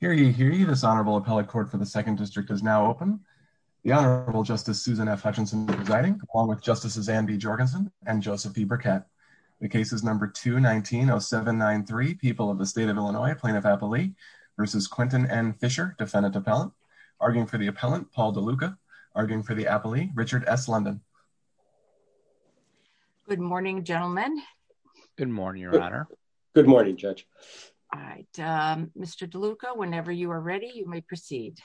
for the second district is now open. The Honorable Justice Susan F. Hutchinson presiding, along with Justices Anne B. Jorgensen and Joseph E. Burkett. The case is number 219-0793, People of the State of Illinois, Plaintiff Appellee v. Quentin N. Fisher, Defendant Appellant. Arguing for the Appellant, Paul DeLuca. Arguing for the Appellee, Richard S. London. Good morning, gentlemen. Good morning, Your Honor. Good morning, Judge. Mr. DeLuca, whenever you are ready, you may proceed.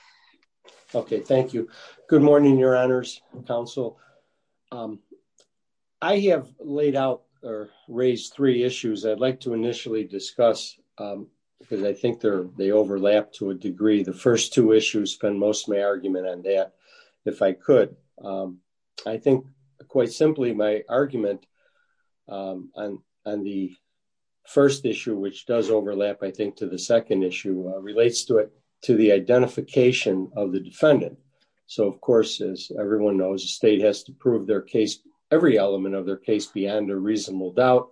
Okay, thank you. Good morning, Your Honors and Counsel. I have laid out or raised three issues I'd like to initially discuss because I think they overlap to a degree. The first two issues spend most of my argument on that, if I could. I think, quite simply, my argument on the first issue, which does overlap, I think, to the second issue, relates to it, to the identification of the defendant. So, of course, as everyone knows, the state has to prove their case, every element of their case, beyond a reasonable doubt,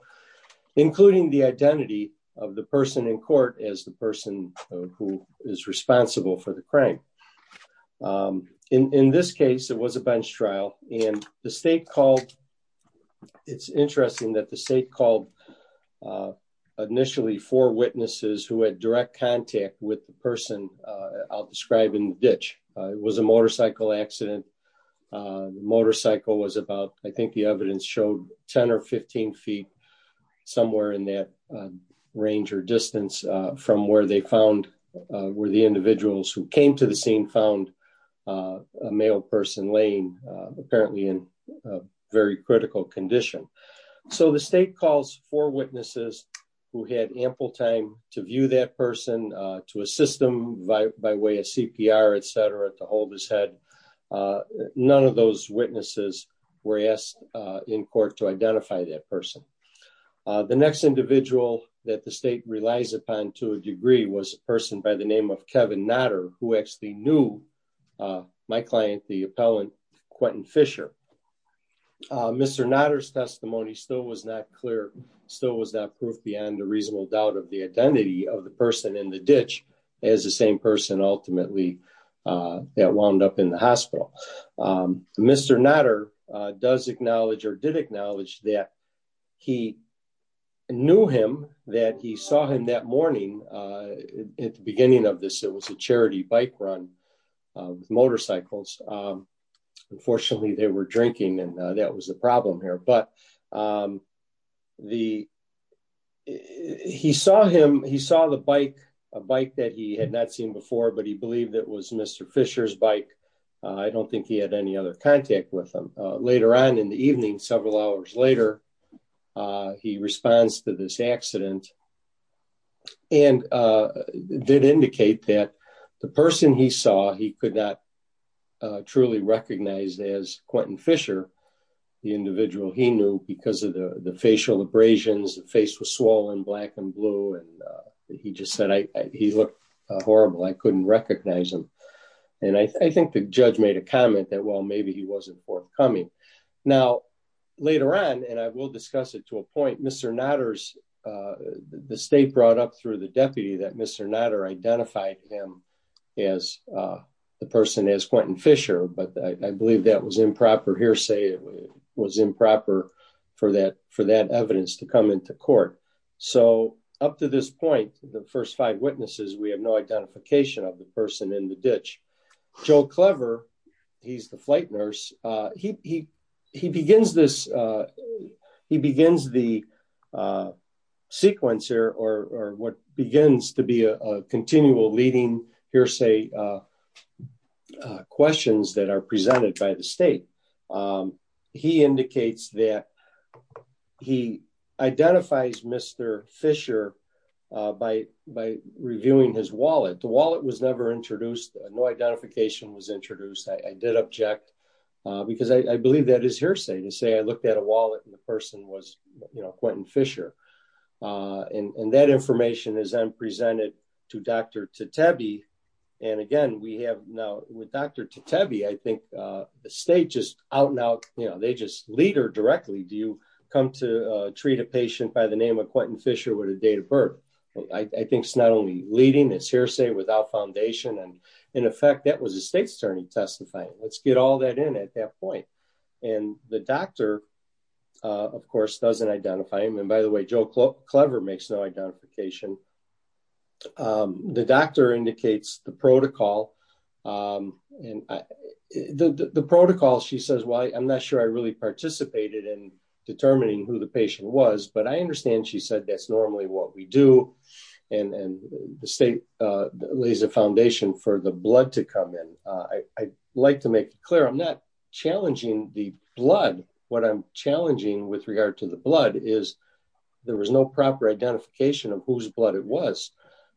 including the identity of the person in court as the person who is responsible for the crime. In this case, it was a bench trial, and the state called, it's interesting that the state called initially four witnesses who had direct contact with the person I'll describe in the ditch. It was a motorcycle accident. The motorcycle was about, I think the evidence showed, 10 or 15 feet, somewhere in that range or distance from where they found, were the individuals who came to found a male person laying, apparently, in a very critical condition. So, the state calls four witnesses who had ample time to view that person, to assist them by way of CPR, etc., to hold his head. None of those witnesses were asked in court to identify that person. The next individual that the state relies upon to a degree was a person by the name of Kevin Nodder, who actually knew my client, the appellant, Quentin Fisher. Mr. Nodder's testimony still was not clear, still was not proof beyond a reasonable doubt of the identity of the person in the ditch as the same person, ultimately, that wound up in the hospital. Mr. Nodder does acknowledge, or did acknowledge, that he knew him, that he saw him that morning at the beginning of this. It was a charity bike run with motorcycles. Unfortunately, they were drinking and that was the problem here, but he saw him, he saw the bike, a bike that he had not seen before, but he believed it was Mr. Fisher's bike. I don't think he had any other contact with him. Later on in the evening, several hours later, he responds to this accident and did indicate that the person he saw, he could not truly recognize as Quentin Fisher, the individual he knew, because of the facial abrasions, the face was swollen black and blue, and he just said, he looked horrible, I couldn't recognize him. And I think the judge made a comment that, well, maybe he wasn't forthcoming. Now, later on, and I will discuss it to a point, Mr. Nodder's, the state brought up through the deputy that Mr. Nodder identified him as the person as Quentin Fisher, but I believe that was improper hearsay, it was improper for that, for that evidence to come into court. So up to this point, the first five witnesses, we have no identification of the person in the ditch. Joe Clever, he's the flight nurse, he begins this, he begins the sequence here, or what begins to be a continual leading hearsay questions that are presented by the state. He indicates that he identifies Mr. Fisher by reviewing his wallet, the wallet was never introduced, no identification was introduced, I did object, because I believe that is hearsay to say, I looked at a wallet and the person was, you know, Quentin Fisher. And that information is then presented to Dr. Tatebe, and again, we have now with Dr. Tatebe, I think the state just out and out, you know, they just lead her directly, do you come to treat a patient by the name of Quentin Fisher with a date of birth? I think it's not only leading, it's hearsay without foundation. And in effect, that was a state's attorney testifying, let's get all that in at that point. And the doctor, of course, doesn't identify him. And by the way, Joe Clever makes no identification. The doctor indicates the protocol. And the protocol, she says, well, I'm not sure I really participated in determining who the patient was. But I understand she said, that's normally what we do. And the state lays a foundation for the blood to come in. I like to make it clear, I'm not challenging the blood, what I'm challenging with regard to the blood is, there was no proper identification of whose blood it was.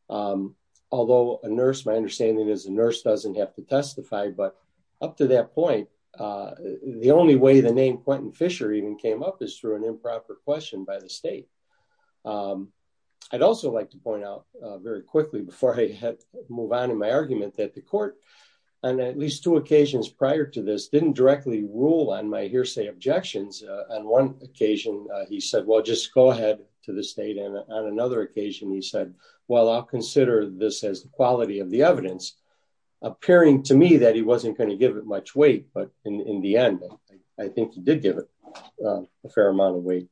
Although a nurse, my understanding is a nurse doesn't have to testify. But up to that point, the only way the name Quentin Fisher even came up is through an improper question by the state. I'd also like to point out very quickly before I move on in my argument that the court, and at least two occasions prior to this, didn't directly rule on my hearsay objections. On one occasion, he said, well, just go ahead to the state. And on another occasion, he said, well, I'll consider this as the quality of the evidence. Appearing to me that he wasn't going to give it much weight, but in the end, I think he did give it a fair amount of weight.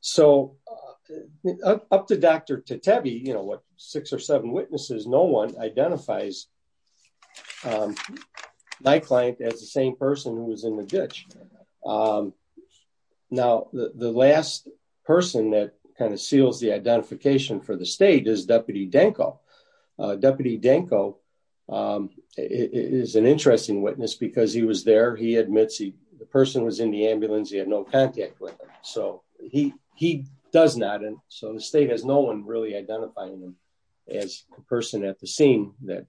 So up to Dr. Tatevi, you know, what six or seven witnesses, no one identifies my client as the same person who was in the ditch. Now, the last person that kind of identifies for the state is Deputy Danko. Deputy Danko is an interesting witness because he was there. He admits the person was in the ambulance. He had no contact with him. So he does not. And so the state has no one really identifying him as the person at the scene that,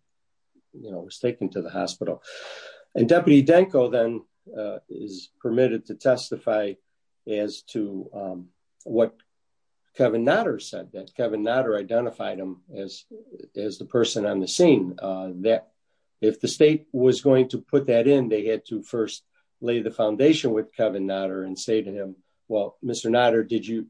you know, was taken to the hospital. And Deputy Danko then is permitted to testify as to what Kevin Nodder said, that Kevin Nodder identified him as the person on the scene. If the state was going to put that in, they had to first lay the foundation with Kevin Nodder and say to him, well, Mr. Nodder, did you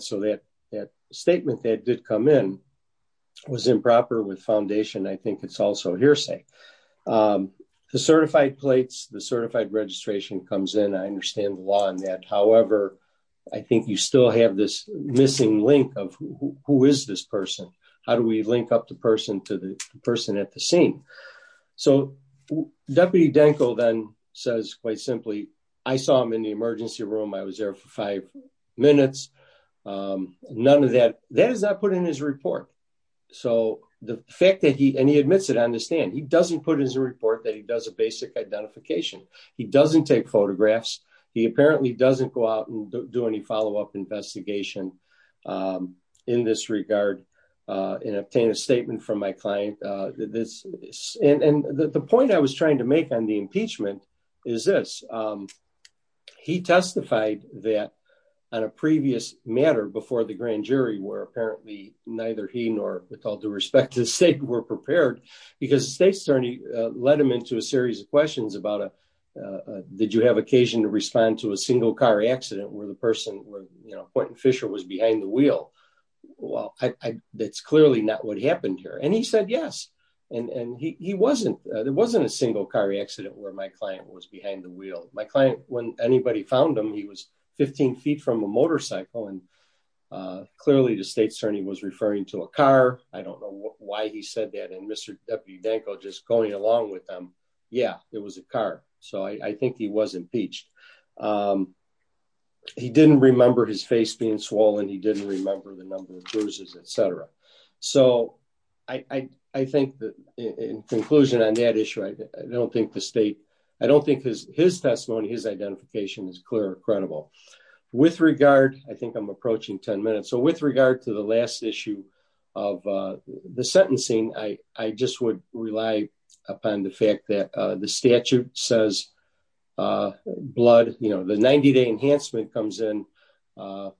So that statement that did come in was improper with foundation. I think it's also hearsay. The certified plates, the certified registration comes in. I understand the law on that. However, I think you still have this missing link of who is this person? How do we link up the person to the person at the scene? So Deputy Danko then says quite simply, I saw him in the emergency room. I was there for five minutes. None of that, that is not put in his report. So the fact that he, and he admits it, I understand. He doesn't put in his report that he does a basic identification. He doesn't take photographs. He apparently doesn't go out and do any follow-up investigation in this regard and obtain a statement from my client. And the point I was that on a previous matter before the grand jury where apparently neither he nor with all due respect to the state were prepared because the state attorney led him into a series of questions about, did you have occasion to respond to a single car accident where the person was, you know, Point and Fisher was behind the wheel? Well, that's clearly not what happened here. And he said, yes. And he wasn't, there wasn't a single car accident where my client was behind the wheel. My client, when anybody found him, he was 15 feet from a motorcycle. And clearly the state attorney was referring to a car. I don't know why he said that. And Mr. Deputy Danko just going along with them. Yeah, it was a car. So I think he was impeached. He didn't remember his face being swollen. He didn't remember the number of bruises, et cetera. So I think that in conclusion on that issue, I don't think the state, I don't think his testimony, his identification is clear, credible with regard. I think I'm approaching 10 minutes. So with regard to the last issue of the sentencing, I just would rely upon the fact that the statute says blood, you know, the 90 day enhancement comes in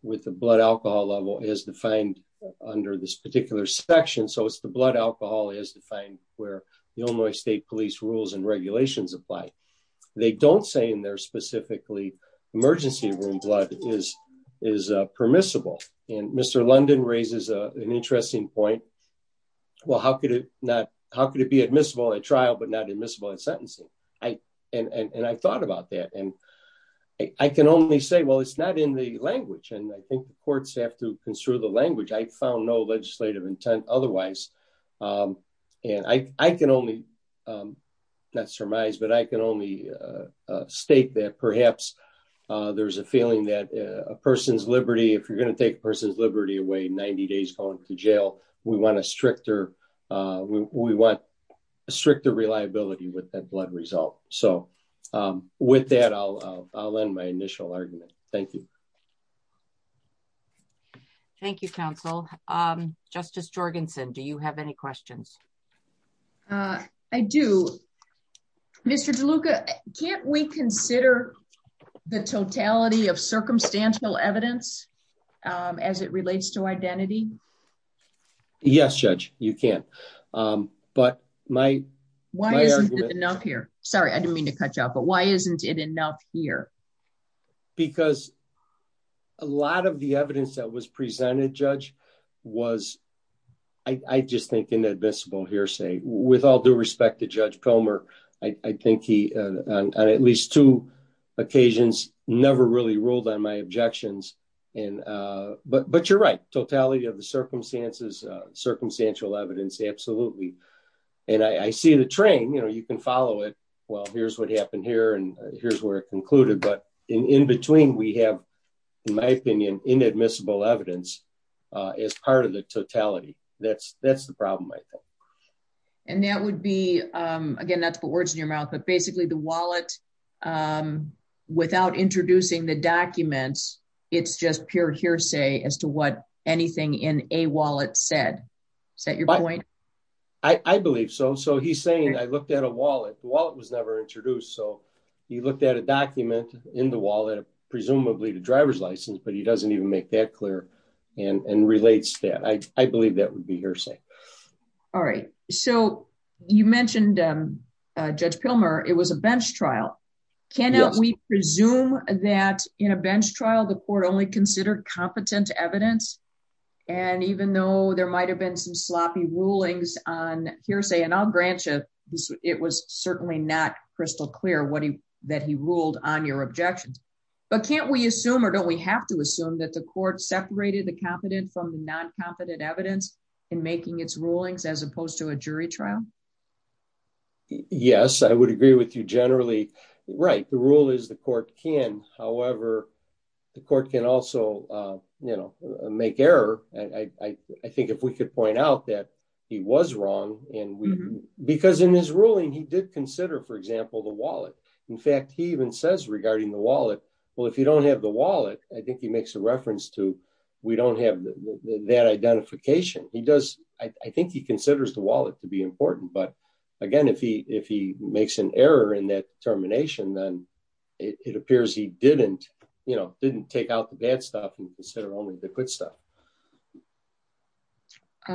with the blood alcohol level is defined under this particular section. So it's the blood alcohol is defined where the Illinois state police rules and regulations apply. They don't say in there specifically emergency room blood is, is permissible. And Mr. London raises an interesting point. Well, how could it not, how could it be admissible at trial, but not admissible in sentencing? I, and I thought about that and I can only say, well, it's not in the language. And I think the courts have to otherwise. And I can only not surmise, but I can only state that perhaps there's a feeling that a person's liberty, if you're going to take a person's liberty away, 90 days going to jail, we want a stricter, we want a stricter reliability with that blood result. So with that, I'll, I'll end my initial argument. Thank you. Thank you, counsel. Justice Jorgensen, do you have any questions? I do. Mr. DeLuca, can't we consider the totality of circumstantial evidence as it relates to identity? Yes, judge, you can. But my, why is it enough here? Sorry, I didn't mean to cut you off, but why isn't it enough here? Because a lot of the evidence that was presented, judge, was, I just think inadmissible hearsay. With all due respect to Judge Pomer, I think he, on at least two occasions, never really ruled on my objections. And, but, but you're right. Totality of the circumstances, circumstantial evidence, absolutely. And I see the train, you know, you can follow it. Well, here's what happened here. And here's where it concluded. But in between, we have, in my opinion, inadmissible evidence as part of the totality. That's, that's the problem, I think. And that would be, again, not to put words in your mouth, but basically the wallet, without introducing the documents, it's just pure hearsay as to what anything in a wallet said. Is that your point? I believe so. So he's saying, I looked at a wallet, the wallet was never introduced. So he looked at a document in the wallet, presumably the driver's license, but he doesn't even make that clear and relates that. I believe that would be hearsay. All right. So you mentioned Judge Pomer, it was a bench trial. Can we presume that in a bench trial, the court only considered competent evidence? And even though there might've been some sloppy rulings on hearsay, and I'll grant you, it was certainly not crystal clear what he, that he ruled on your objections. But can't we assume, or don't we have to assume that the court separated the competent from the non-competent evidence in making its rulings as opposed to a jury trial? Yes, I would agree with you generally. Right. The rule is the court can, however, the court can also, you know, make error. I think if we could point out that he was wrong and because in his ruling, he did consider, for example, the wallet. In fact, he even says regarding the wallet, well, if you don't have the wallet, I think he makes a reference to, we don't have that identification. He does. I think he considers the wallet to be important, but again, if he, if he makes an error in that termination, then it appears he didn't, you know, didn't take out the bad stuff and consider only the good stuff. I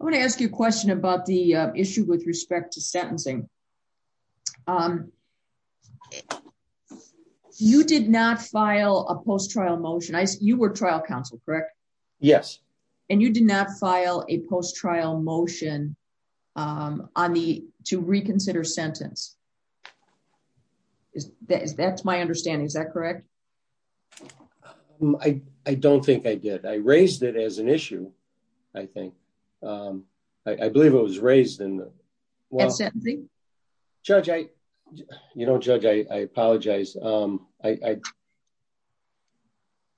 want to ask you a question about the issue with respect to sentencing. You did not file a post-trial motion. You were trial counsel, correct? Yes. And you did not file a post-trial motion on the, to reconsider sentence. Is that, that's my understanding. Is that correct? I don't think I did. I raised it as an issue. I think I believe it was raised in the judge. I, you know, judge, I apologize. I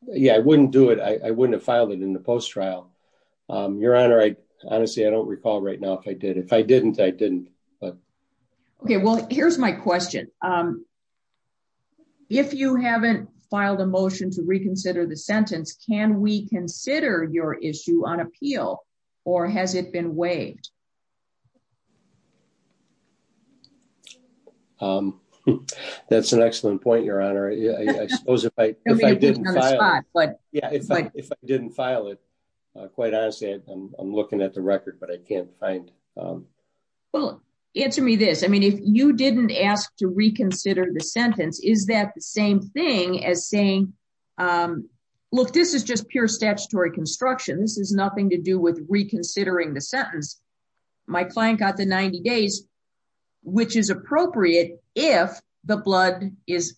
yeah, I wouldn't do it. I wouldn't have filed it in the post-trial your honor. I honestly, I don't recall right now. If I did, if I didn't, I didn't, but okay. Well, here's my question. If you haven't filed a motion to reconsider the sentence, can we consider your issue on appeal or has it been waived? That's an excellent point. Your honor. I suppose if I didn't file, if I didn't file it, quite honestly, I'm looking at the record, but I can't find. Well, answer me this. I mean, if you didn't ask to reconsider the sentence, is that the same thing as saying, look, this is just pure statutory construction. This has nothing to do with reconsidering the sentence. My client got the 90 days, which is appropriate. If the blood is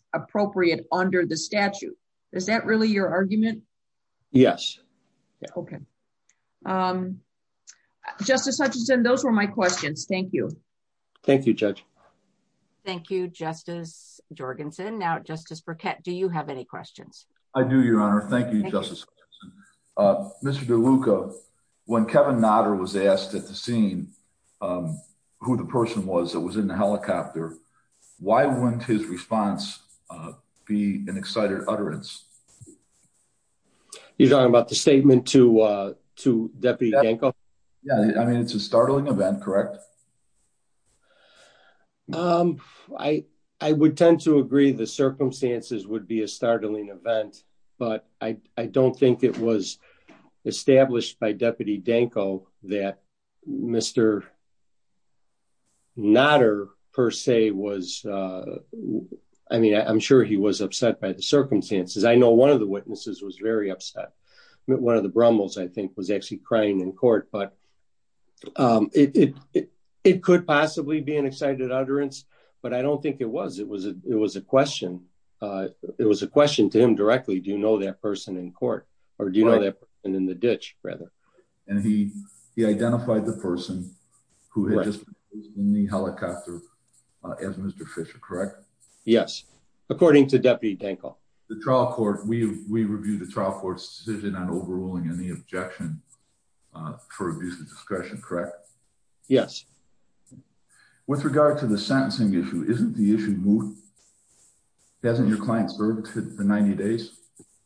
Yes. Okay. Um, justice Hutchinson, those were my questions. Thank you. Thank you, judge. Thank you. Justice Jorgensen. Now, justice Burkett, do you have any questions? I do your honor. Thank you, justice. Mr. DeLuca, when Kevin Nader was asked at the scene, who the person was that was in the helicopter, why wouldn't his response be an excited utterance? You're talking about the statement to, uh, to deputy Danko. Yeah. I mean, it's a startling event, correct? Um, I, I would tend to agree the circumstances would be a startling event, but I, I don't think it was established by deputy Danko that Mr. Nader per se was, uh, I mean, I'm sure he was upset by the circumstances. I know one of the witnesses was very upset. One of the brumbles I think was actually crying in court, but, um, it, it, it could possibly be an excited utterance, but I don't think it was, it was a, it was a question. Uh, it was a question to him directly. Do you know that person in court or do you know that in the ditch rather? And he, he identified the person who had just been in the helicopter as Mr. Fisher, correct? Yes. According to deputy Danko, the trial court, we, we reviewed the trial court's decision on overruling any objection, uh, for abuse of discretion, correct? Yes. With regard to the sentencing issue, isn't the issue moved? Hasn't your client's verdict for 90 days?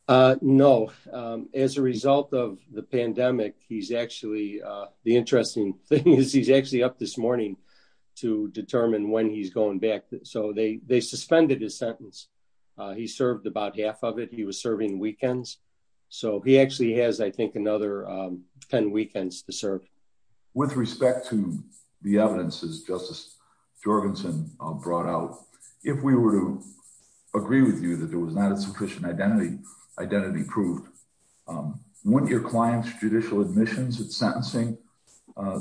Uh, no. Um, as a result of the pandemic, he's actually, uh, the interesting thing is he's up this morning to determine when he's going back. So they, they suspended his sentence. He served about half of it. He was serving weekends. So he actually has, I think another, um, 10 weekends to serve with respect to the evidence is justice Jorgensen brought out. If we were to agree with you that there was not a sufficient identity identity proved, um, your client's judicial admissions at sentencing, uh,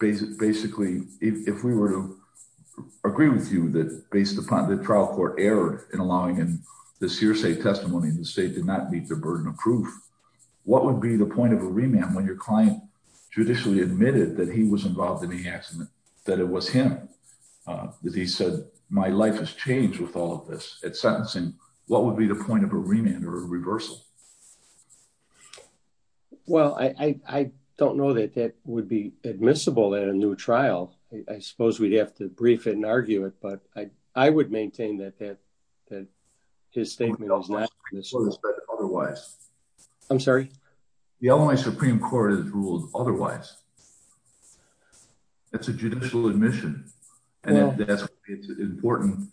basic, basically, if we were to agree with you that based upon the trial court error in allowing him this hearsay testimony in the state did not meet the burden of proof, what would be the point of a remand when your client judicially admitted that he was involved in the accident, that it was him, uh, that he said, my life has changed with all of this at sentencing. What would be the point of a remand or a reversal? Well, I, I don't know that that would be admissible at a new trial. I suppose we'd have to brief it and argue it, but I, I would maintain that, that, that his statement was not otherwise. I'm sorry. The LMI Supreme court has ruled otherwise. That's a judicial admission. And it's important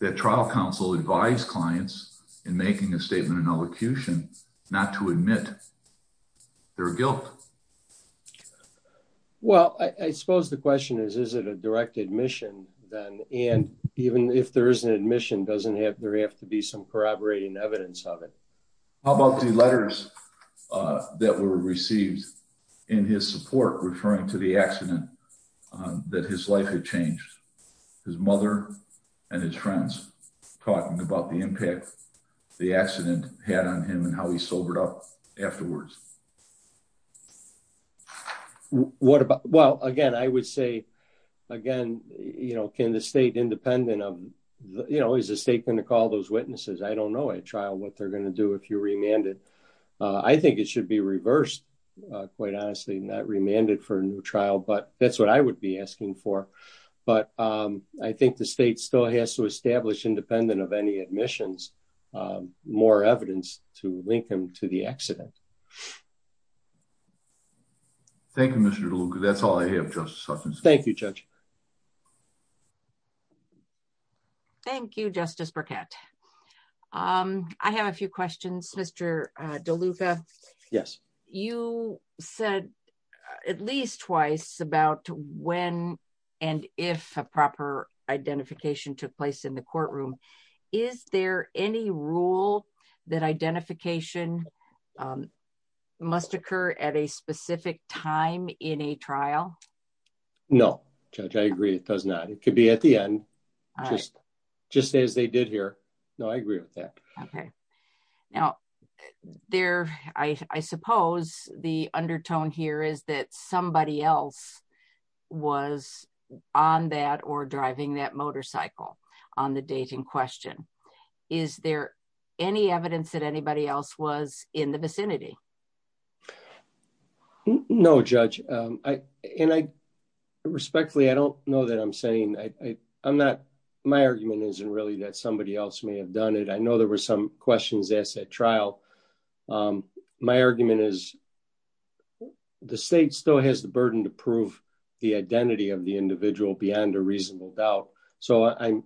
that trial counsel advise clients in making a statement in elocution, not to admit their guilt. Well, I suppose the question is, is it a direct admission then? And even if there is an admission doesn't have, there have to be some corroborating evidence of it. How about the letters, uh, that were received in his support, referring to the accident, uh, that his life had changed his mother and his friends talking about the impact the accident had on him and how he sobered up afterwards. What about, well, again, I would say again, you know, can the state independent of, you know, is the state going to call those witnesses? I don't know at trial what they're going to do. If you remanded, uh, I think it should be reversed, uh, quite honestly, not remanded for a new trial, but that's what I would be asking for. But, um, I think the state still has to establish independent of any admissions, um, more evidence to link them to the accident. Thank you, Mr. DeLuca. That's all I have. Thank you, judge. Thank you, justice Burkett. Um, I have a few questions, Mr. DeLuca. Yes. You said at least twice about when and if a proper identification took place in the courtroom. Is there any rule that identification, um, must occur at a specific time in a trial? No, judge, I agree. It does not. It could be at the end, just, just as they did here. No, I agree with that. Okay. Now there, I suppose the undertone here is that somebody else was on that or driving that motorcycle on the date in question. Is there any evidence that anybody else was in the vicinity? No judge. Um, I, and I respectfully, I don't know that I'm saying I I'm not, my argument isn't really that somebody else may have done it. I know there were some questions asked at trial. Um, my argument is the state still has the burden to prove the identity of the individual beyond a reasonable doubt. So I'm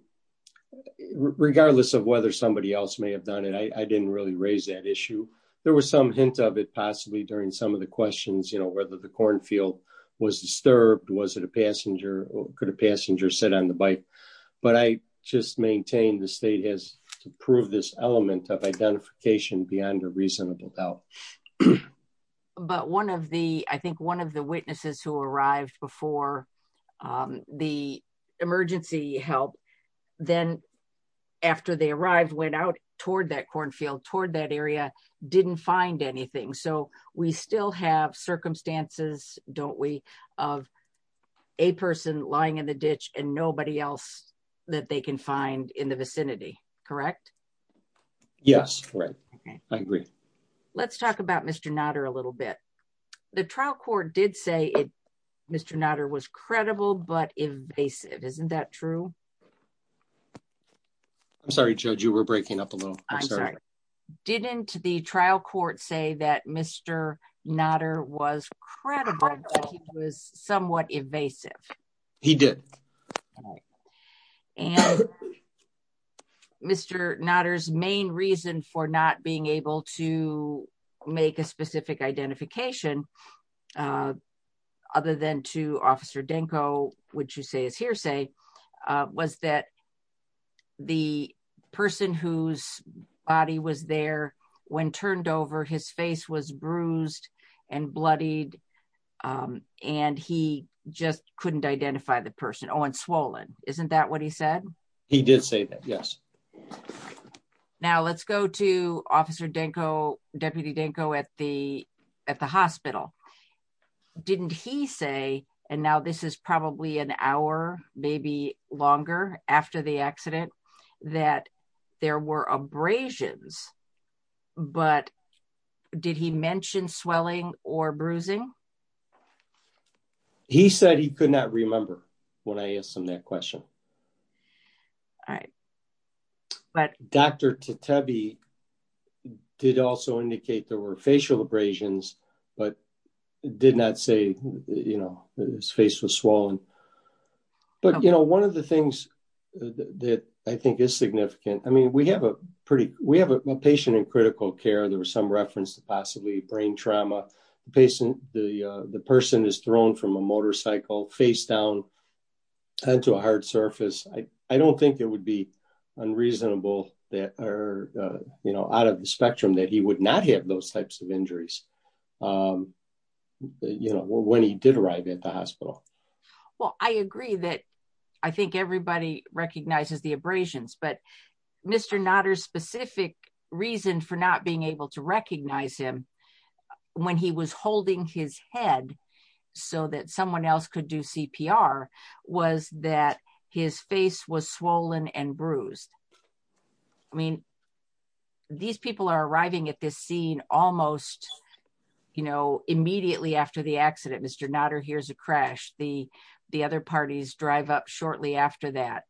regardless of whether somebody else may have done it, I didn't really raise that issue. There was some hint of it possibly during some of the questions, you know, whether the cornfield was disturbed, was it a passenger or could a passenger sit on the bike, but I just maintain the state has to prove this element of identification beyond a reasonable doubt. But one of the, I think one of the witnesses who arrived before, um, the emergency help, then after they arrived, went out toward that cornfield, toward that area, didn't find anything. So we still have circumstances, don't we, of a person lying in the ditch and nobody else that they can find in the vicinity. Correct. Yes. Right. Okay. I agree. Let's talk about Mr. Nader a little bit. The trial court did say it, Mr. Nader was credible, but invasive. Isn't that true? I'm sorry, judge, you were breaking up a little. I'm sorry. Didn't the trial court say that Mr. Nader was credible, but he was somewhat invasive. He did. And Mr. Nader's main reason for not being able to make a specific identification, other than to officer Denko, which you say is hearsay, was that the person whose body was there when turned over, his face was bruised and bloodied. And he just couldn't identify the person. Oh, and swollen. Isn't that what he said? He did say that. Yes. Now let's go to officer Denko, Deputy Denko at the, at the hospital. Didn't he say, and now this is probably an hour, maybe longer after the accident, that there were abrasions, but did he mention swelling or bruising? He said he could not remember when I asked him that question. All right. But Dr. Tatabi did also indicate there were facial abrasions, but did not say, you know, his face was swollen. But, you know, one of the things that I think is significant, I mean, we have a pretty, we have a patient in critical care. There was some reference to possibly brain trauma. The patient, the, the person is thrown from a motorcycle face down onto a hard surface. I, I don't think it would be unreasonable that, or, you know, out of the spectrum that he would not have those types of injuries. You know, when he did arrive at the hospital. Well, I agree that I think everybody recognizes the abrasions, but Mr. Notter's specific reason for not being able to recognize him when he was holding his head so that someone else could do CPR was that his face was swollen and people are arriving at this scene almost, you know, immediately after the accident, Mr. Notter hears a crash. The, the other parties drive up shortly after that.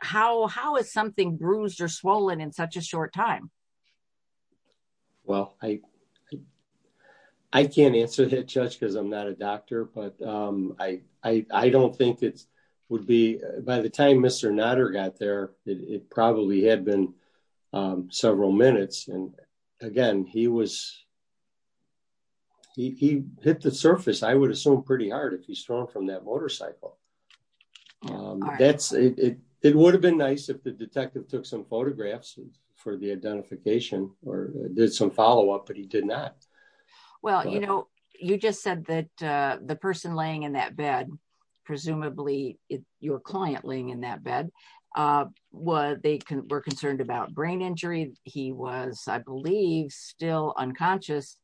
How, how is something bruised or swollen in such a short time? Well, I, I can't answer that judge because I'm not a doctor, but I, I, I don't think it would be by the time Mr. Notter got there, it probably had been several minutes. And again, he was, he, he hit the surface. I would assume pretty hard if he's thrown from that motorcycle. That's it. It would have been nice if the detective took some photographs for the identification or did some follow-up, but he did not. Well, you know, you just said that the person laying in that bed, presumably your client laying in that bed, were, they were concerned about brain injury. He was, I believe, still unconscious.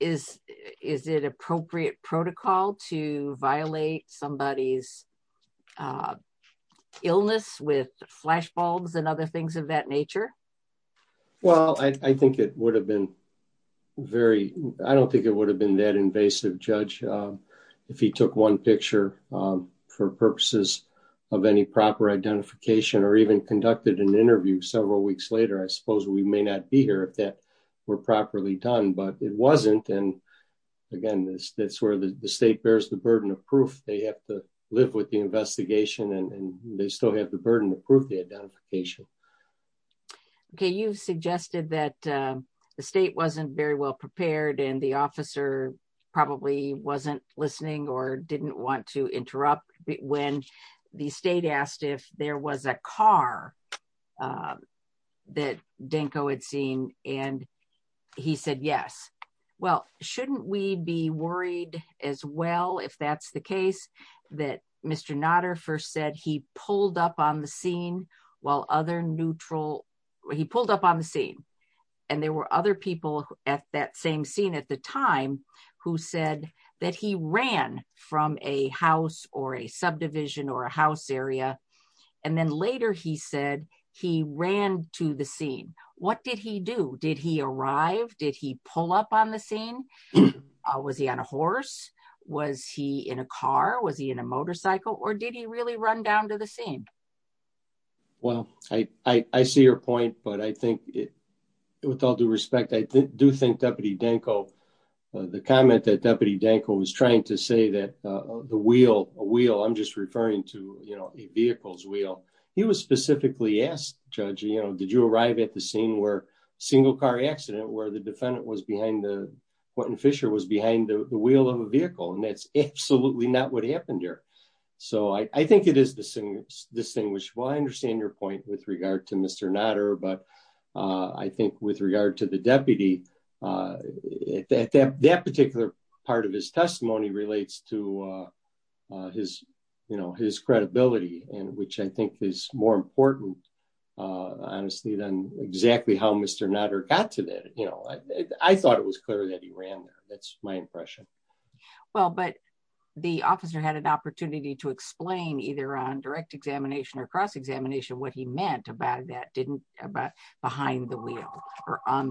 Is, is it appropriate protocol to violate somebody's illness with flash bulbs and things of that nature? Well, I think it would have been very, I don't think it would have been that invasive judge. If he took one picture for purposes of any proper identification or even conducted an interview several weeks later, I suppose we may not be here if that were properly done, but it wasn't. And again, that's where the state bears the burden of proof. They have to the investigation and they still have the burden to prove the identification. Okay. You've suggested that the state wasn't very well prepared and the officer probably wasn't listening or didn't want to interrupt when the state asked if there was a car that Denko had seen. And he said, yes. Well, shouldn't we be worried as well, if that's the that Mr. Notter first said he pulled up on the scene while other neutral, he pulled up on the scene and there were other people at that same scene at the time who said that he ran from a house or a subdivision or a house area. And then later he said he ran to the scene. What did he do? Did he arrive? Did he pull up on the scene? Was he on a horse? Was he in a car? Was he in a motorcycle or did he really run down to the scene? Well, I see your point, but I think with all due respect, I do think Deputy Denko, the comment that Deputy Denko was trying to say that the wheel, a wheel, I'm just referring to, you know, a vehicle's wheel. He was specifically asked, Judge, you know, did you arrive at the scene where a single car accident, where the defendant was behind the, Quentin Fisher was behind the wheel of a vehicle? And that's absolutely not what happened here. So I think it is distinguishable. I understand your point with regard to Mr. Notter, but I think with regard to the deputy, that particular part of his testimony relates to his, you know, his credibility and which I think is more important, honestly, than exactly how Mr. Notter got to that. You know, I thought it was clear that he ran there. That's my impression. Well, but the officer had an opportunity to explain either on direct examination or cross-examination what he meant about that didn't, about behind the wheel or on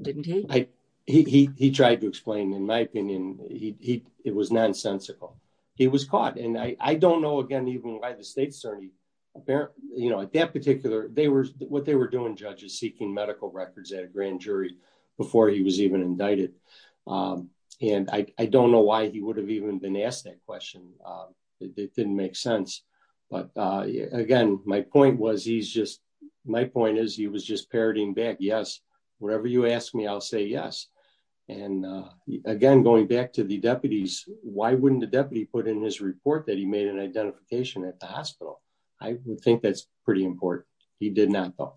didn't he? He tried to explain, in my opinion, he, it was nonsensical. He was caught. And I don't know, again, even why the state certainly, you know, at that particular, they were, what they were doing, judges, seeking medical records at a grand jury before he was even indicted. And I don't know why he would have even been asked that question. It didn't make sense. But again, my point is he was just parroting back, yes, whatever you ask me, I'll say yes. And again, going back to the deputies, why wouldn't the deputy put in his report that he made an identification at the hospital? I think that's pretty important. He did not though.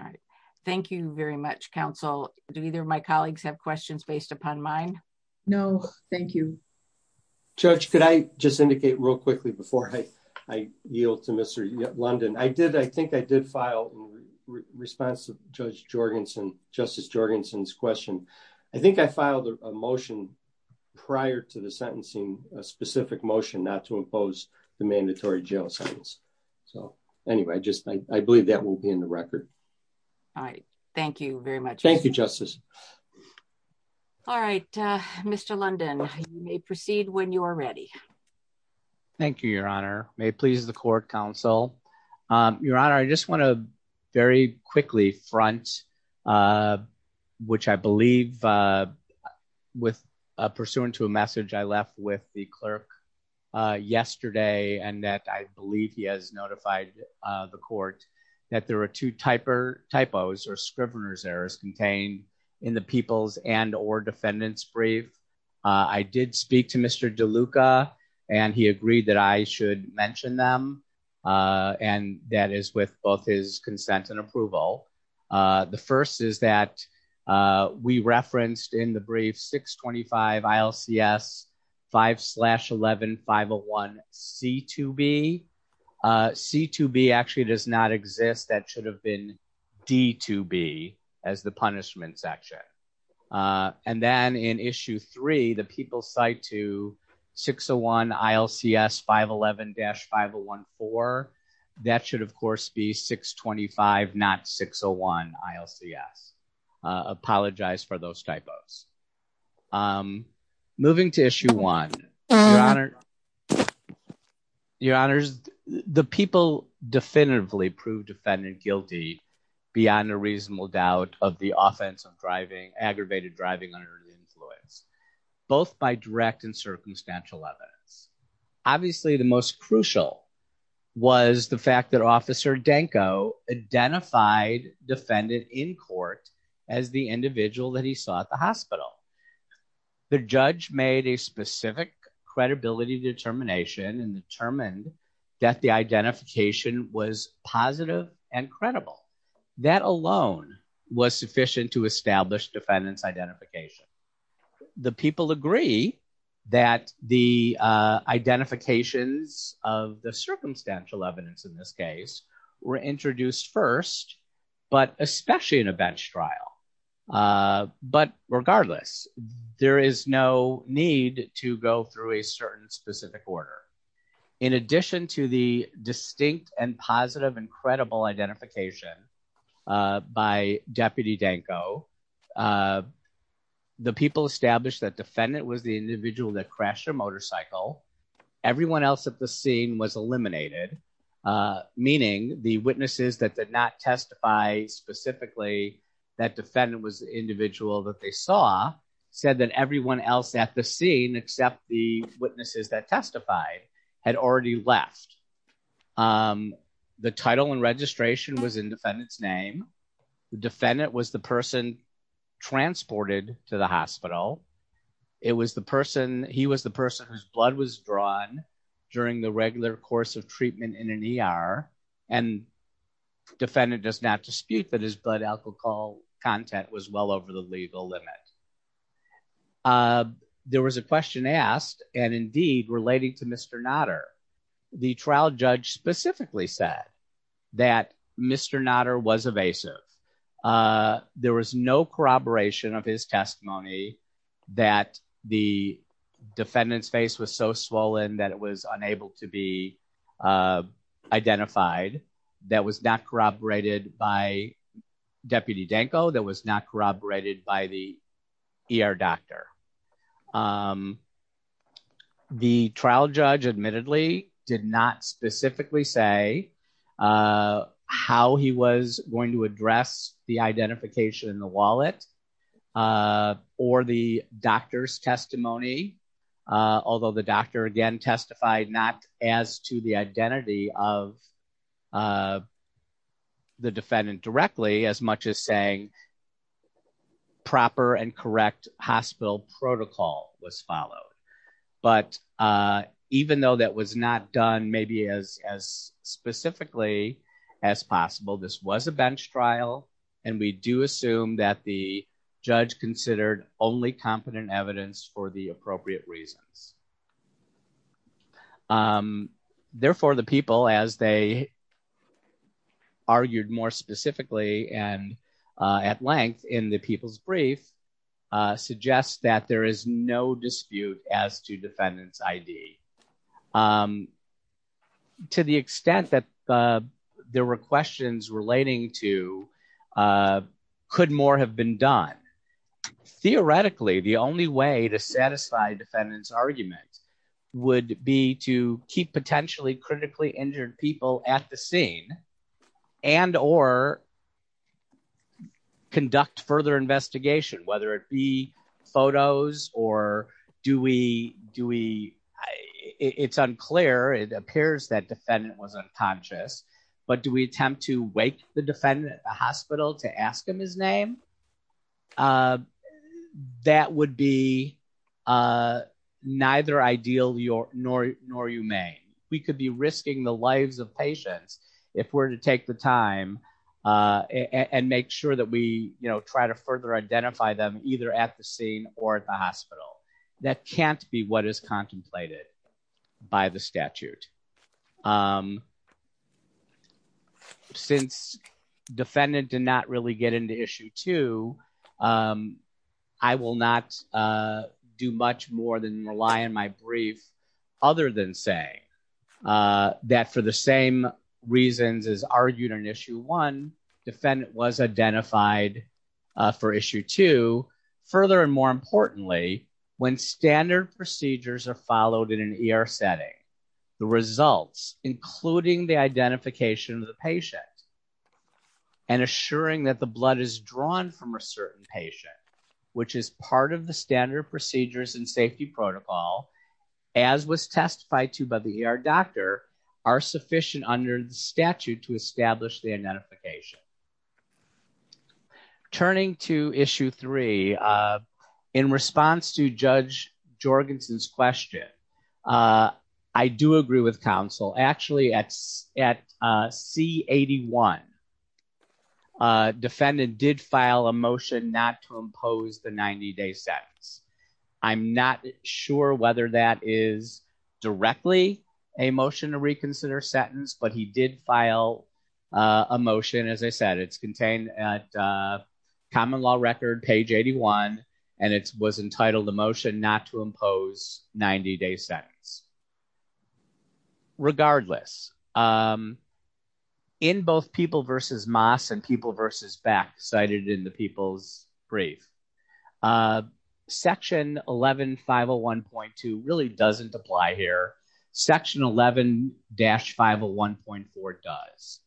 All right. Thank you very much, counsel. Do either of my colleagues have questions based upon mine? No, thank you. Judge, could I just indicate real quickly before I, I yield to Mr. London, I did, I think I did file response to Judge Jorgensen, Justice Jorgensen's question. I think I filed a motion prior to the sentencing, a specific motion not to impose the mandatory jail sentence. So anyway, just, I believe that will be in the record. All right. Thank you very much. Thank you, Justice. All right. Mr. London, you may proceed when you are ready. Thank you, Your Honor. May it please the court, counsel. Your Honor, I just want to very quickly front, which I believe with pursuant to a message I left with the clerk yesterday, and that I believe he has notified the court that there are two typos or Scrivener's errors contained in the people's and or defendant's brief. I did speak to Mr. DeLuca and he agreed that I should mention them. And that is with both his consent and approval. The first is that we referenced in the brief 625 ILCS 5 slash 11 501 C2B. C2B actually does not exist. That should have been D2B as the punishment section. And then in issue three, the people cite to 601 ILCS 511 dash 5014. That should of course be 625 not 601 ILCS. Apologize for those typos. Moving to issue one, Your Honor. Your Honors, the people definitively proved defendant guilty beyond a reasonable doubt of the offense of driving aggravated driving under the influence, both by direct and circumstantial evidence. Obviously, the most crucial was the fact that Officer Denko identified defendant in court as the individual that he saw at the hospital. The judge made a specific credibility determination and determined that the identification was positive and credible. That alone was sufficient to establish defendant's identification. The people agree that the identifications of the circumstantial evidence in this case were introduced first, but especially in a bench trial. But regardless, there is no need to go through a certain specific order. In addition to the distinct and positive and credible identification by Deputy Denko, the people established that defendant was the individual that crashed motorcycle. Everyone else at the scene was eliminated, meaning the witnesses that did not testify specifically that defendant was the individual that they saw said that everyone else at the scene except the witnesses that testified had already left. The title and registration was in defendant's name. The defendant was the person transported to the hospital. It was the person, he was the person whose blood was drawn during the regular course of treatment in an ER and defendant does not dispute that his blood alcohol content was well over the legal limit. There was a question asked and indeed relating to Mr. Nader. The trial judge specifically said that Mr. Nader was evasive. There was no corroboration of his testimony that the defendant's face was so swollen that it was unable to be identified, that was not corroborated by Deputy Denko, that was not corroborated by the ER doctor. The trial judge admittedly did not specifically say how he was going to address the identification in the wallet or the doctor's testimony, although the doctor again testified not as to the identity of the defendant directly as much as saying proper and correct hospital protocol was followed. But even though that was not done maybe as specifically as possible, this was a bench trial and we do assume that the judge considered only competent evidence for the appropriate reasons. Therefore, the people as they argued more specifically and at length in the people's brief suggest that there is no dispute as to defendant's ID. To the extent that there were questions relating to could more have been done. Theoretically, the only way to satisfy defendant's argument would be to keep potentially critically injured people at the scene and or conduct further investigation, whether it be photos or do we, do we, it's unclear, it appears that defendant was unconscious, but do we attempt to wake the defendant at the hospital to ask him his name? That would be neither ideal nor humane. We could be risking the lives of patients if we're to take the time and make sure that we, you know, try to further identify them either at the scene or at the hospital. That can't be what is contemplated by the statute. Since defendant did not really get into issue two, I will not do much more than rely on my brief other than say that for the same reasons as argued on issue one, defendant was identified for issue two. Further and more importantly, when standard procedures are followed in an ER setting, the results including the identification of the patient and assuring that the blood is drawn from a certain patient, which is part of the standard procedures and safety protocol as was testified to by the ER doctor are sufficient under the statute to establish the identification. Turning to issue three, in response to Judge Jorgensen's question, I do agree with counsel. Actually at C81, defendant did file a motion not to impose the 90-day sentence. I'm not sure whether that is directly a motion to reconsider sentence, but he did file a motion. As I said, it's contained at common law record page 81, and it was entitled the motion not to impose 90-day sentence. Regardless, in both people versus mass and people versus back cited in the people's brief, a section 11501.2 really doesn't apply here. Section 11-501.4 does.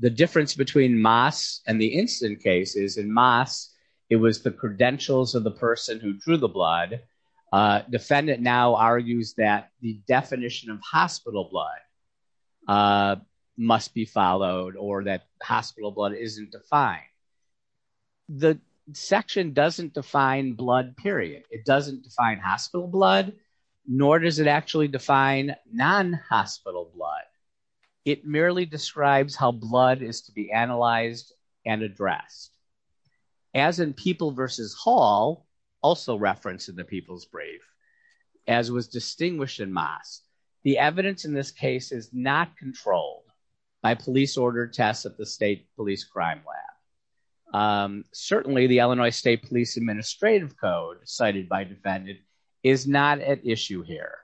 The difference between mass and the incident case is in mass, it was the credentials of the person who drew the blood. Defendant now argues that the definition of hospital blood must be followed or that hospital blood isn't defined. The section doesn't define blood, period. It doesn't define hospital blood, nor does it actually define non-hospital blood. It merely describes how blood is to be analyzed and addressed. As in people versus hall, also referenced in the people's brief, as was distinguished in mass, the evidence in this case is not controlled by police order tests at the state police crime lab. Certainly the Illinois State Police Administrative Code cited by defendant is not at issue here.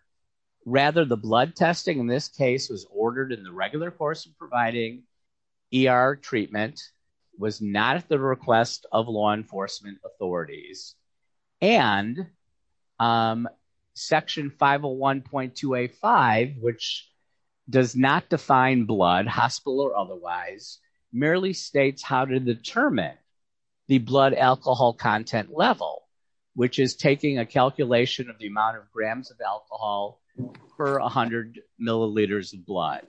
Rather, the blood testing in this case was ordered in the regular course of providing ER treatment, was not at the request of law enforcement authorities. Section 501.285, which does not define blood, hospital or otherwise, merely states how to determine the blood alcohol content level, which is taking a calculation of the amount of grams of alcohol per 100 milliliters of blood.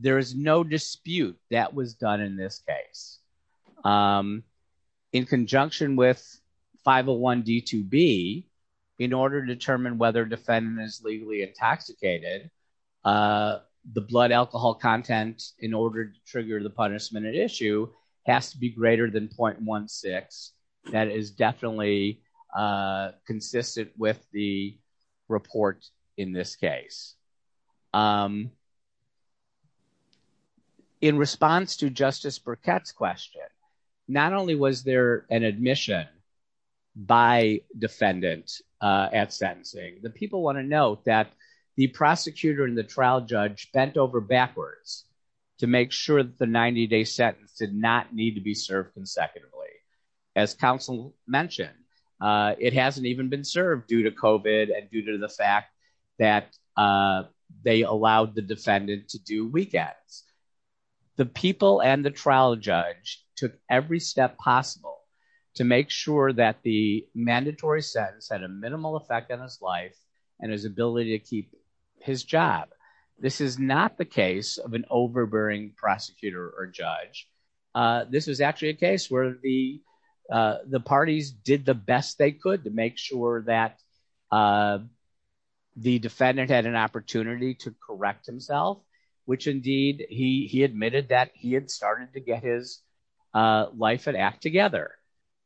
There is no dispute that was done in this case. In conjunction with 501.D2B, in order to determine whether defendant is legally intoxicated, the blood alcohol content in order to trigger the punishment at issue has to be greater than 0.16. That is definitely consistent with the report in this case. In response to Justice Burkett's question, not only was there an admission by defendant at sentencing, the people want to note that the prosecutor and the trial judge bent over backwards to make sure that the 90 day sentence did not need to be served consecutively. As counsel mentioned, it hasn't even been served due to COVID and due to the fact that they allowed the defendant to do weekends. The people and the trial judge took every step possible to make sure that the mandatory sentence had a minimal effect on his life and his ability to keep his job. This is not the case of an overbearing prosecutor or this is actually a case where the parties did the best they could to make sure that the defendant had an opportunity to correct himself, which indeed he admitted that he had started to get his life and act together.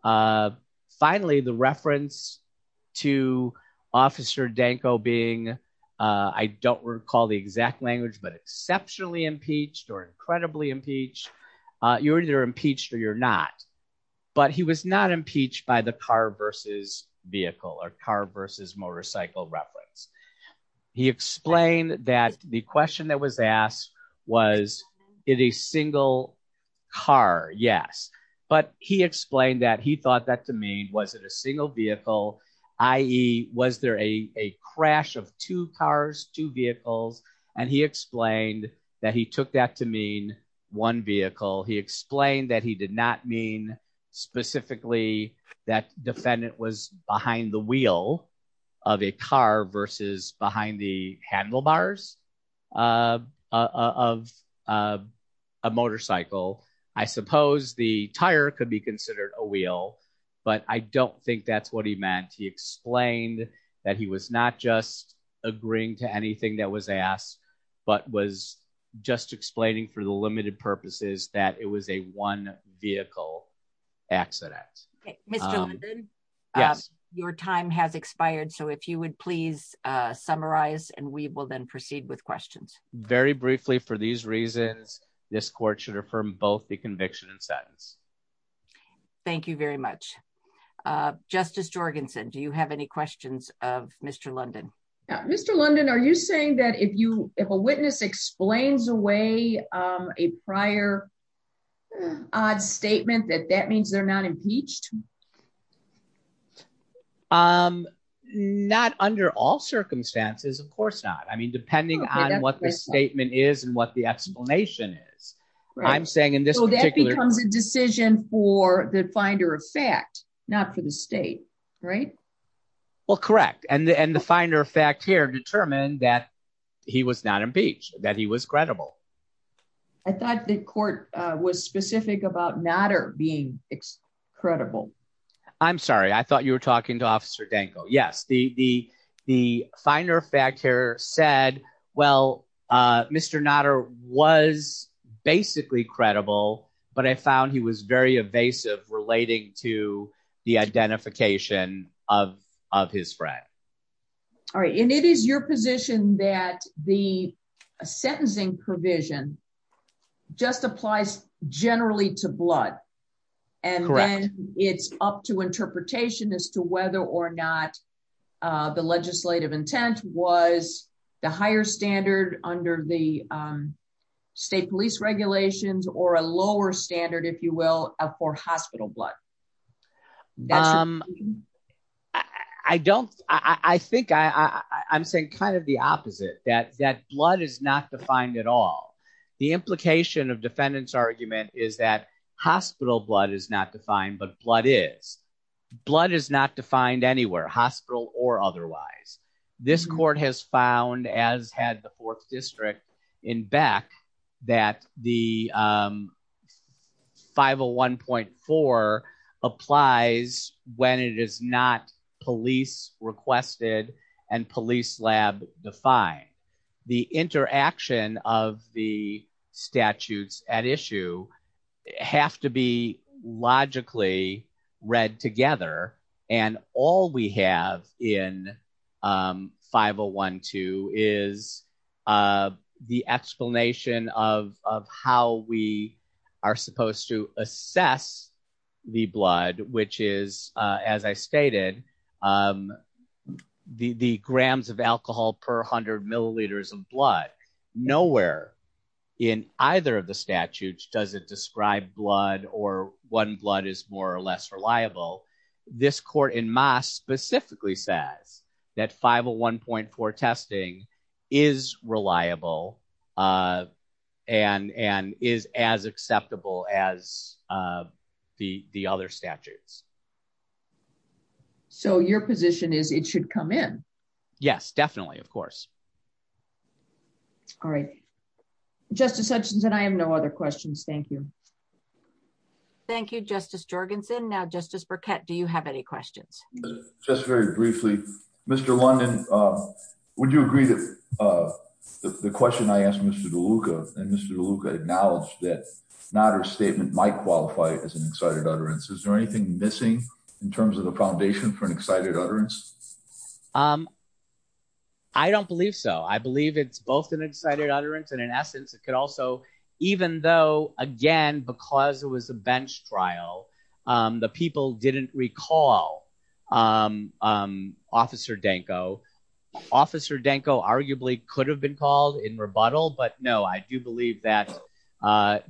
Finally, the reference to Officer Danko being, I don't recall the exact language, but exceptionally impeached or incredibly impeached. You're either impeached or you're not, but he was not impeached by the car versus vehicle or car versus motorcycle reference. He explained that the question that was asked was, is it a single car? Yes. But he explained that he thought that to mean, was it a single vehicle, i.e. was there a explained that he did not mean specifically that defendant was behind the wheel of a car versus behind the handlebars of a motorcycle. I suppose the tire could be considered a wheel, but I don't think that's what he meant. He explained that he was not just agreeing to that. It was a one vehicle accident. Mr. London, your time has expired. If you would please summarize and we will then proceed with questions. Very briefly for these reasons, this court should affirm both the conviction and sentence. Thank you very much. Justice Jorgensen, do you have any questions of Mr. London? Mr. London, are you saying that if a witness explains away a prior odd statement that that means they're not impeached? Not under all circumstances, of course not. I mean, depending on what the statement is and what the explanation is, I'm saying in this particular... So that becomes a decision for the finder of fact, not for the state, right? Well, correct. And the finder of fact here that he was not impeached, that he was credible. I thought the court was specific about Notter being credible. I'm sorry. I thought you were talking to Officer Danko. Yes. The finder of fact here said, well, Mr. Notter was basically credible, but I found he was very evasive relating to the identification of his friend. All right. And it is your position that the sentencing provision just applies generally to blood. Correct. And then it's up to interpretation as to whether or not the legislative intent was the higher standard under the state police regulations or a lower standard, if you will, for hospital blood. I'm saying kind of the opposite, that blood is not defined at all. The implication of defendant's argument is that hospital blood is not defined, but blood is. Blood is not defined anywhere, hospital or otherwise. This court has found, as had the Fourth District in Beck, that the 501.4 applies when it is not police requested and police lab defined. The interaction of the in 501.2 is the explanation of how we are supposed to assess the blood, which is, as I stated, the grams of alcohol per hundred milliliters of blood nowhere in either of the statutes doesn't describe blood or one blood is more or less reliable. This court in mass specifically says that 501.4 testing is reliable and is as acceptable as the other statutes. So your position is it should come in? Yes, definitely. Of course. All right. Justice Hutchinson, I have no other questions. Thank you. Thank you, Justice Jorgensen. Now, Justice Burkett, do you have any questions? Just very briefly, Mr. London, would you agree that the question I asked Mr. DeLuca and Mr. DeLuca acknowledged that Nader's statement might qualify as an excited utterance. Is there anything missing in terms of the foundation for an excited utterance? I don't believe so. I believe it's both an excited utterance and in essence, it could also, even though, again, because it was a bench trial, the people didn't recall Officer Danko. Officer Danko arguably could have been called in rebuttal. But no, I do believe that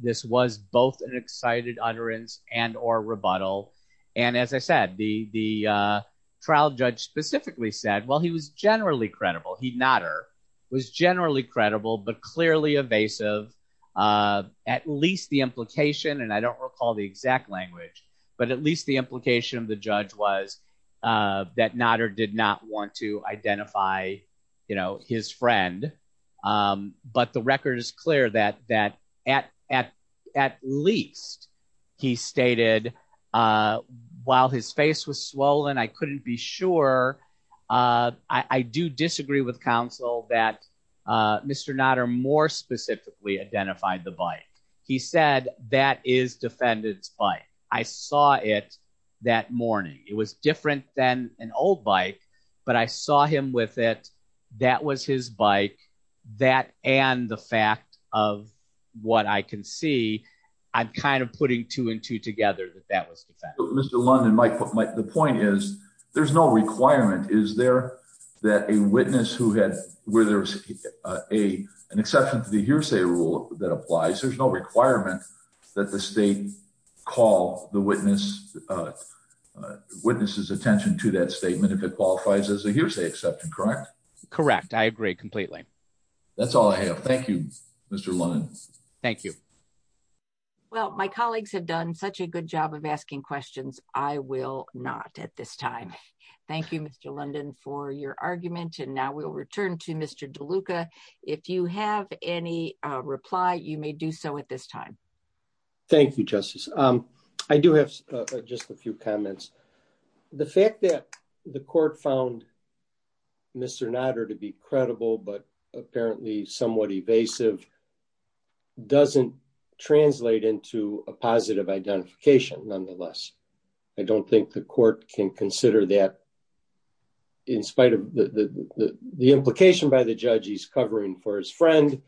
this was both an excited utterance and or rebuttal. And as I said, the trial judge specifically said, well, he was generally credible. He, Nader, was generally credible, but clearly evasive. At least the implication, and I don't recall the exact language, but at least the implication of the judge was that Nader did not want to identify his friend. But the record is clear that at least he stated, while his face was swollen, I couldn't be sure. I do disagree with counsel that Mr. Nader more specifically identified the bike. He said, that is defendant's bike. I saw it that morning. It was different than an old bike, but I saw him with it. That was his bike. That and the fact of what I can see, I'm kind of putting two and two together that that was the fact. Mr. London, the point is, there's no requirement. Is there that a witness who had, where there's an exception to the hearsay rule that applies, there's no requirement that the state call the witness's attention to that statement if it qualifies as a hearsay exception, correct? Correct. I agree completely. That's all I have. Thank you, Mr. London. Thank you. Well, my colleagues have done such a good job of asking questions. I will not at this time. Thank you, Mr. London, for your argument. And now we'll return to Mr. DeLuca. If you have any reply, you may do so at this time. Thank you, Justice. I do have just a few comments. The fact that the court found Mr. Nodder to be credible, but apparently somewhat evasive, doesn't translate into a positive identification, nonetheless. I don't think the court can consider that in spite of the implication by the judge he's covering for his friend,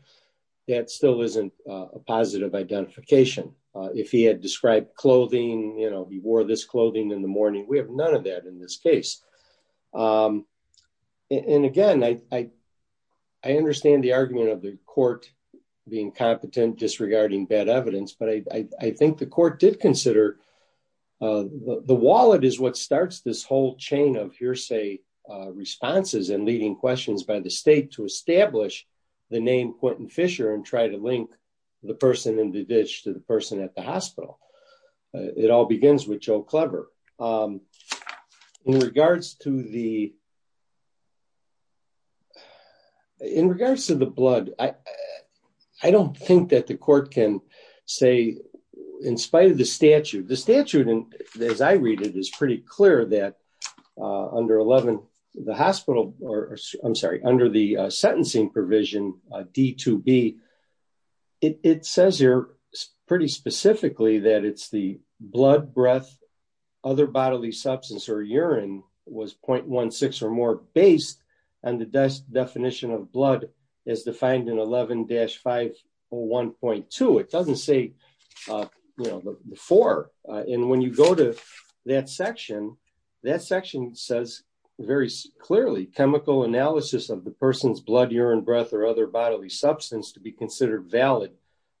that still isn't a positive identification. If he had described clothing, he wore this clothing in the morning. We have none of that in this case. And again, I understand the argument of the court being competent disregarding bad evidence, but I think the court did consider the wallet is what starts this whole chain of hearsay responses and leading questions by the the name Quentin Fisher and try to link the person in the ditch to the person at the hospital. It all begins with Joe Clever. In regards to the blood, I don't think that the court can say, in spite of the statute, the statute, as I read it, is pretty clear that under 11, the hospital, I'm sorry, under the sentencing provision, D2B, it says here pretty specifically that it's the blood, breath, other bodily substance or urine was 0.16 or more based on the definition of blood as defined in 11-501.2. It doesn't say, you know, before. And when you go to that section, that section says very clearly chemical analysis of the person's blood, urine, breath, or other bodily substance to be considered valid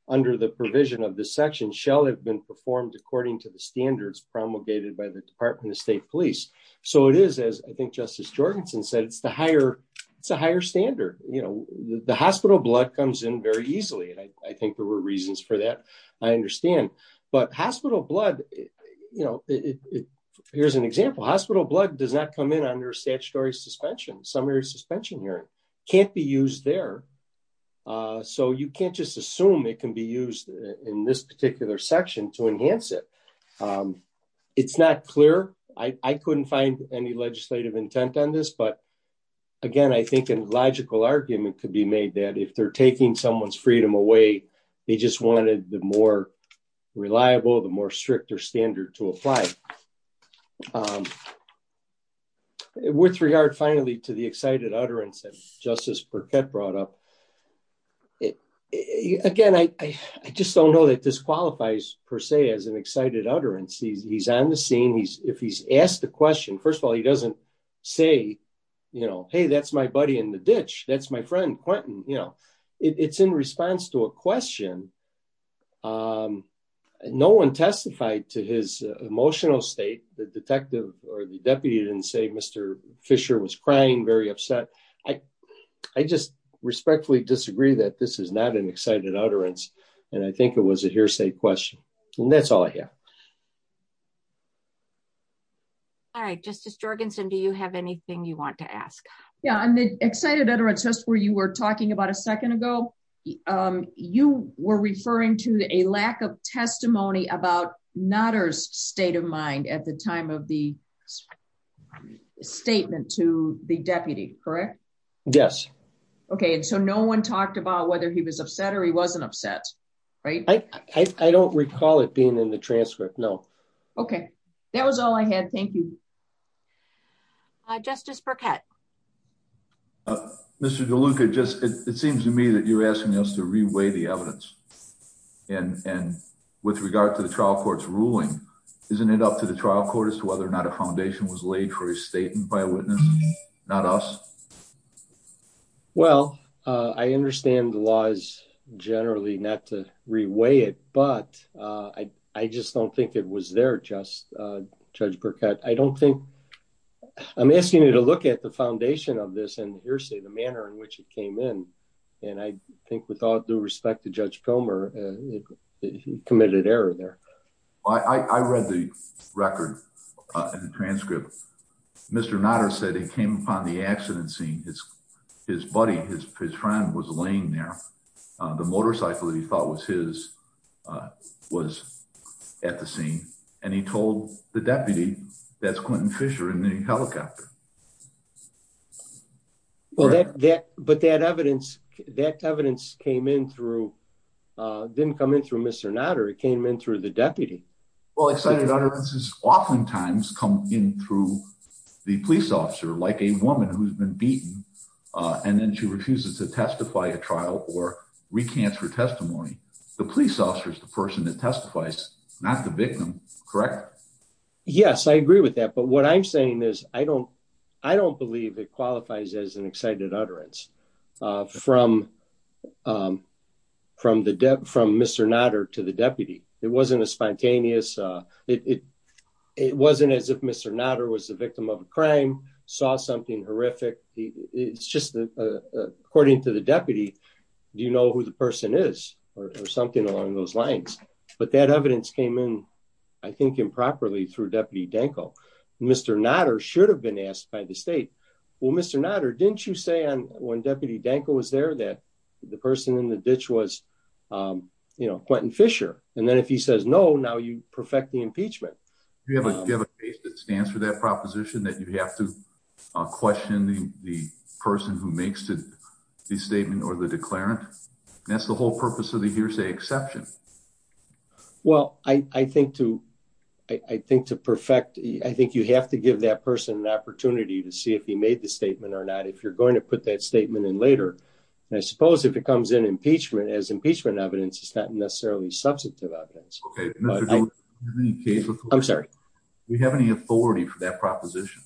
under the provision of the section shall have been performed according to the standards promulgated by the Department of State Police. So it is, as I think Justice Jorgensen said, it's the higher, it's a higher standard. You know, the hospital blood comes in very easily. And I think there were reasons for I understand, but hospital blood, you know, here's an example. Hospital blood does not come in under statutory suspension. Summary suspension urine can't be used there. So you can't just assume it can be used in this particular section to enhance it. It's not clear. I couldn't find any legislative intent on this, but again, I think a logical argument could be made that if they're the more reliable, the more stricter standard to apply. With regard finally to the excited utterance that Justice Burkett brought up, again, I just don't know that this qualifies per se as an excited utterance. He's on the scene. If he's asked a question, first of all, he doesn't say, you know, hey, that's my buddy in the ditch. That's my friend, Quentin, you know, it's in response to a question. No one testified to his emotional state. The detective or the deputy didn't say Mr. Fisher was crying, very upset. I just respectfully disagree that this is not an excited utterance. And I think it was a hearsay question. And that's all I have. All right, Justice Jorgensen, do you have anything you want to ask? Yeah, and the excited utterance just where you were talking about a second ago, you were referring to a lack of testimony about Nutter's state of mind at the time of the statement to the deputy, correct? Yes. Okay. And so no one talked about whether he was upset or he wasn't upset, right? I don't recall it being in the transcript. No. Okay. That was all I had. Thank you. Justice Burkett. Mr. DeLuca, it seems to me that you're asking us to reweigh the evidence. And with regard to the trial court's ruling, isn't it up to the trial court as to whether or not a foundation was laid for a statement by a witness, not us? Well, I understand the laws generally not to reweigh it, but I just don't think it was there, Judge Burkett. I'm asking you to look at the foundation of this and hearsay, the manner in which it came in. And I think with all due respect to Judge Pomer, he committed error there. I read the record and the transcript. Mr. Nutter said he came upon the accident scene, his buddy, his friend was laying there. The motorcycle that he thought was his was at the scene. And he told the deputy, that's Quentin Fisher in the helicopter. But that evidence, that evidence came in through, didn't come in through Mr. Nutter, it came in through the deputy. Well, excited utterances oftentimes come in through the police officer, like a woman who's been beaten. And then she refuses to testify a trial or recant her testimony. The police officer is the person that testifies, not the victim, correct? Yes, I agree with that. But what I'm saying is, I don't believe it qualifies as an excited utterance from Mr. Nutter to the deputy. It wasn't a spontaneous, it wasn't as if Mr. Nutter was the victim of a crime, saw something horrific. It's just that according to the deputy, do you know who the person is or something along those lines? But that evidence came in, I think improperly through deputy Danko. Mr. Nutter should have been asked by the state. Well, Mr. Nutter, didn't you say on when deputy Danko was there that the person in the ditch was, you know, Quentin Fisher. And then if he says no, now you perfect the impeachment. You have a case that stands for that proposition that you have to question the person who makes the statement or the declarant. That's the whole purpose of the hearsay exception. Well, I think to perfect, I think you have to give that person an opportunity to see if he made the statement or not, if you're going to put that statement in later. And I suppose if it comes in impeachment as impeachment evidence, it's not necessarily substantive evidence. I'm sorry. Do you have any authority for that proposition?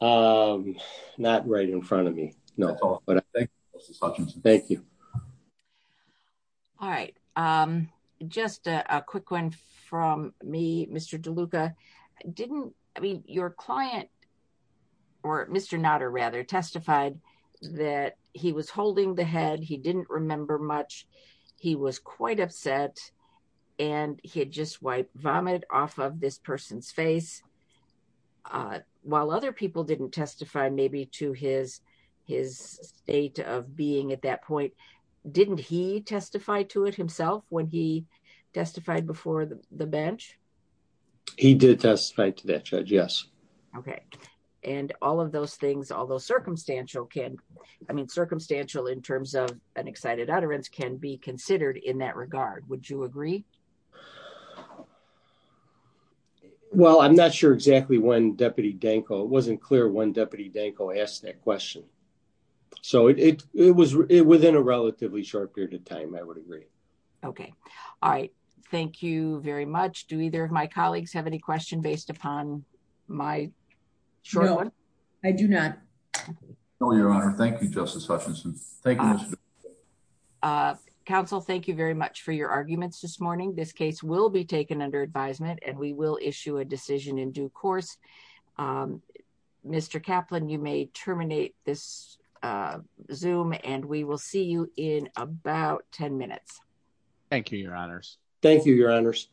Um, not right in front of me. No, but thank you. All right. Um, just a quick one from me, Mr. DeLuca. Didn't I mean your client or Mr. Nutter rather testified that he was holding the head. He didn't remember much. He was quite upset and he had just wiped vomit off of this person's face. While other people didn't testify maybe to his, his state of being at that point, didn't he testify to it himself when he testified before the bench? He did testify to that judge. Yes. Okay. And all of those things, although circumstantial can, I mean, circumstantial in terms of an excited utterance can be considered in that regard. Would you agree? Well, I'm not sure exactly when deputy Danko, it wasn't clear when deputy Danko asked that question. So it, it, it was within a relatively short period of time. I would agree. Okay. All right. Thank you very much. Do either of my colleagues have any question based upon my short one? I do not know your honor. Thank you. Justice Hutchinson. Thank you. Uh, counsel, thank you very much for your arguments this morning. This case will be taken under advisement and we will issue a decision in due course. Um, Mr. Kaplan, you may terminate this, uh, zoom and we will see you in about 10 minutes. Thank you, your honors. Thank you, your honors.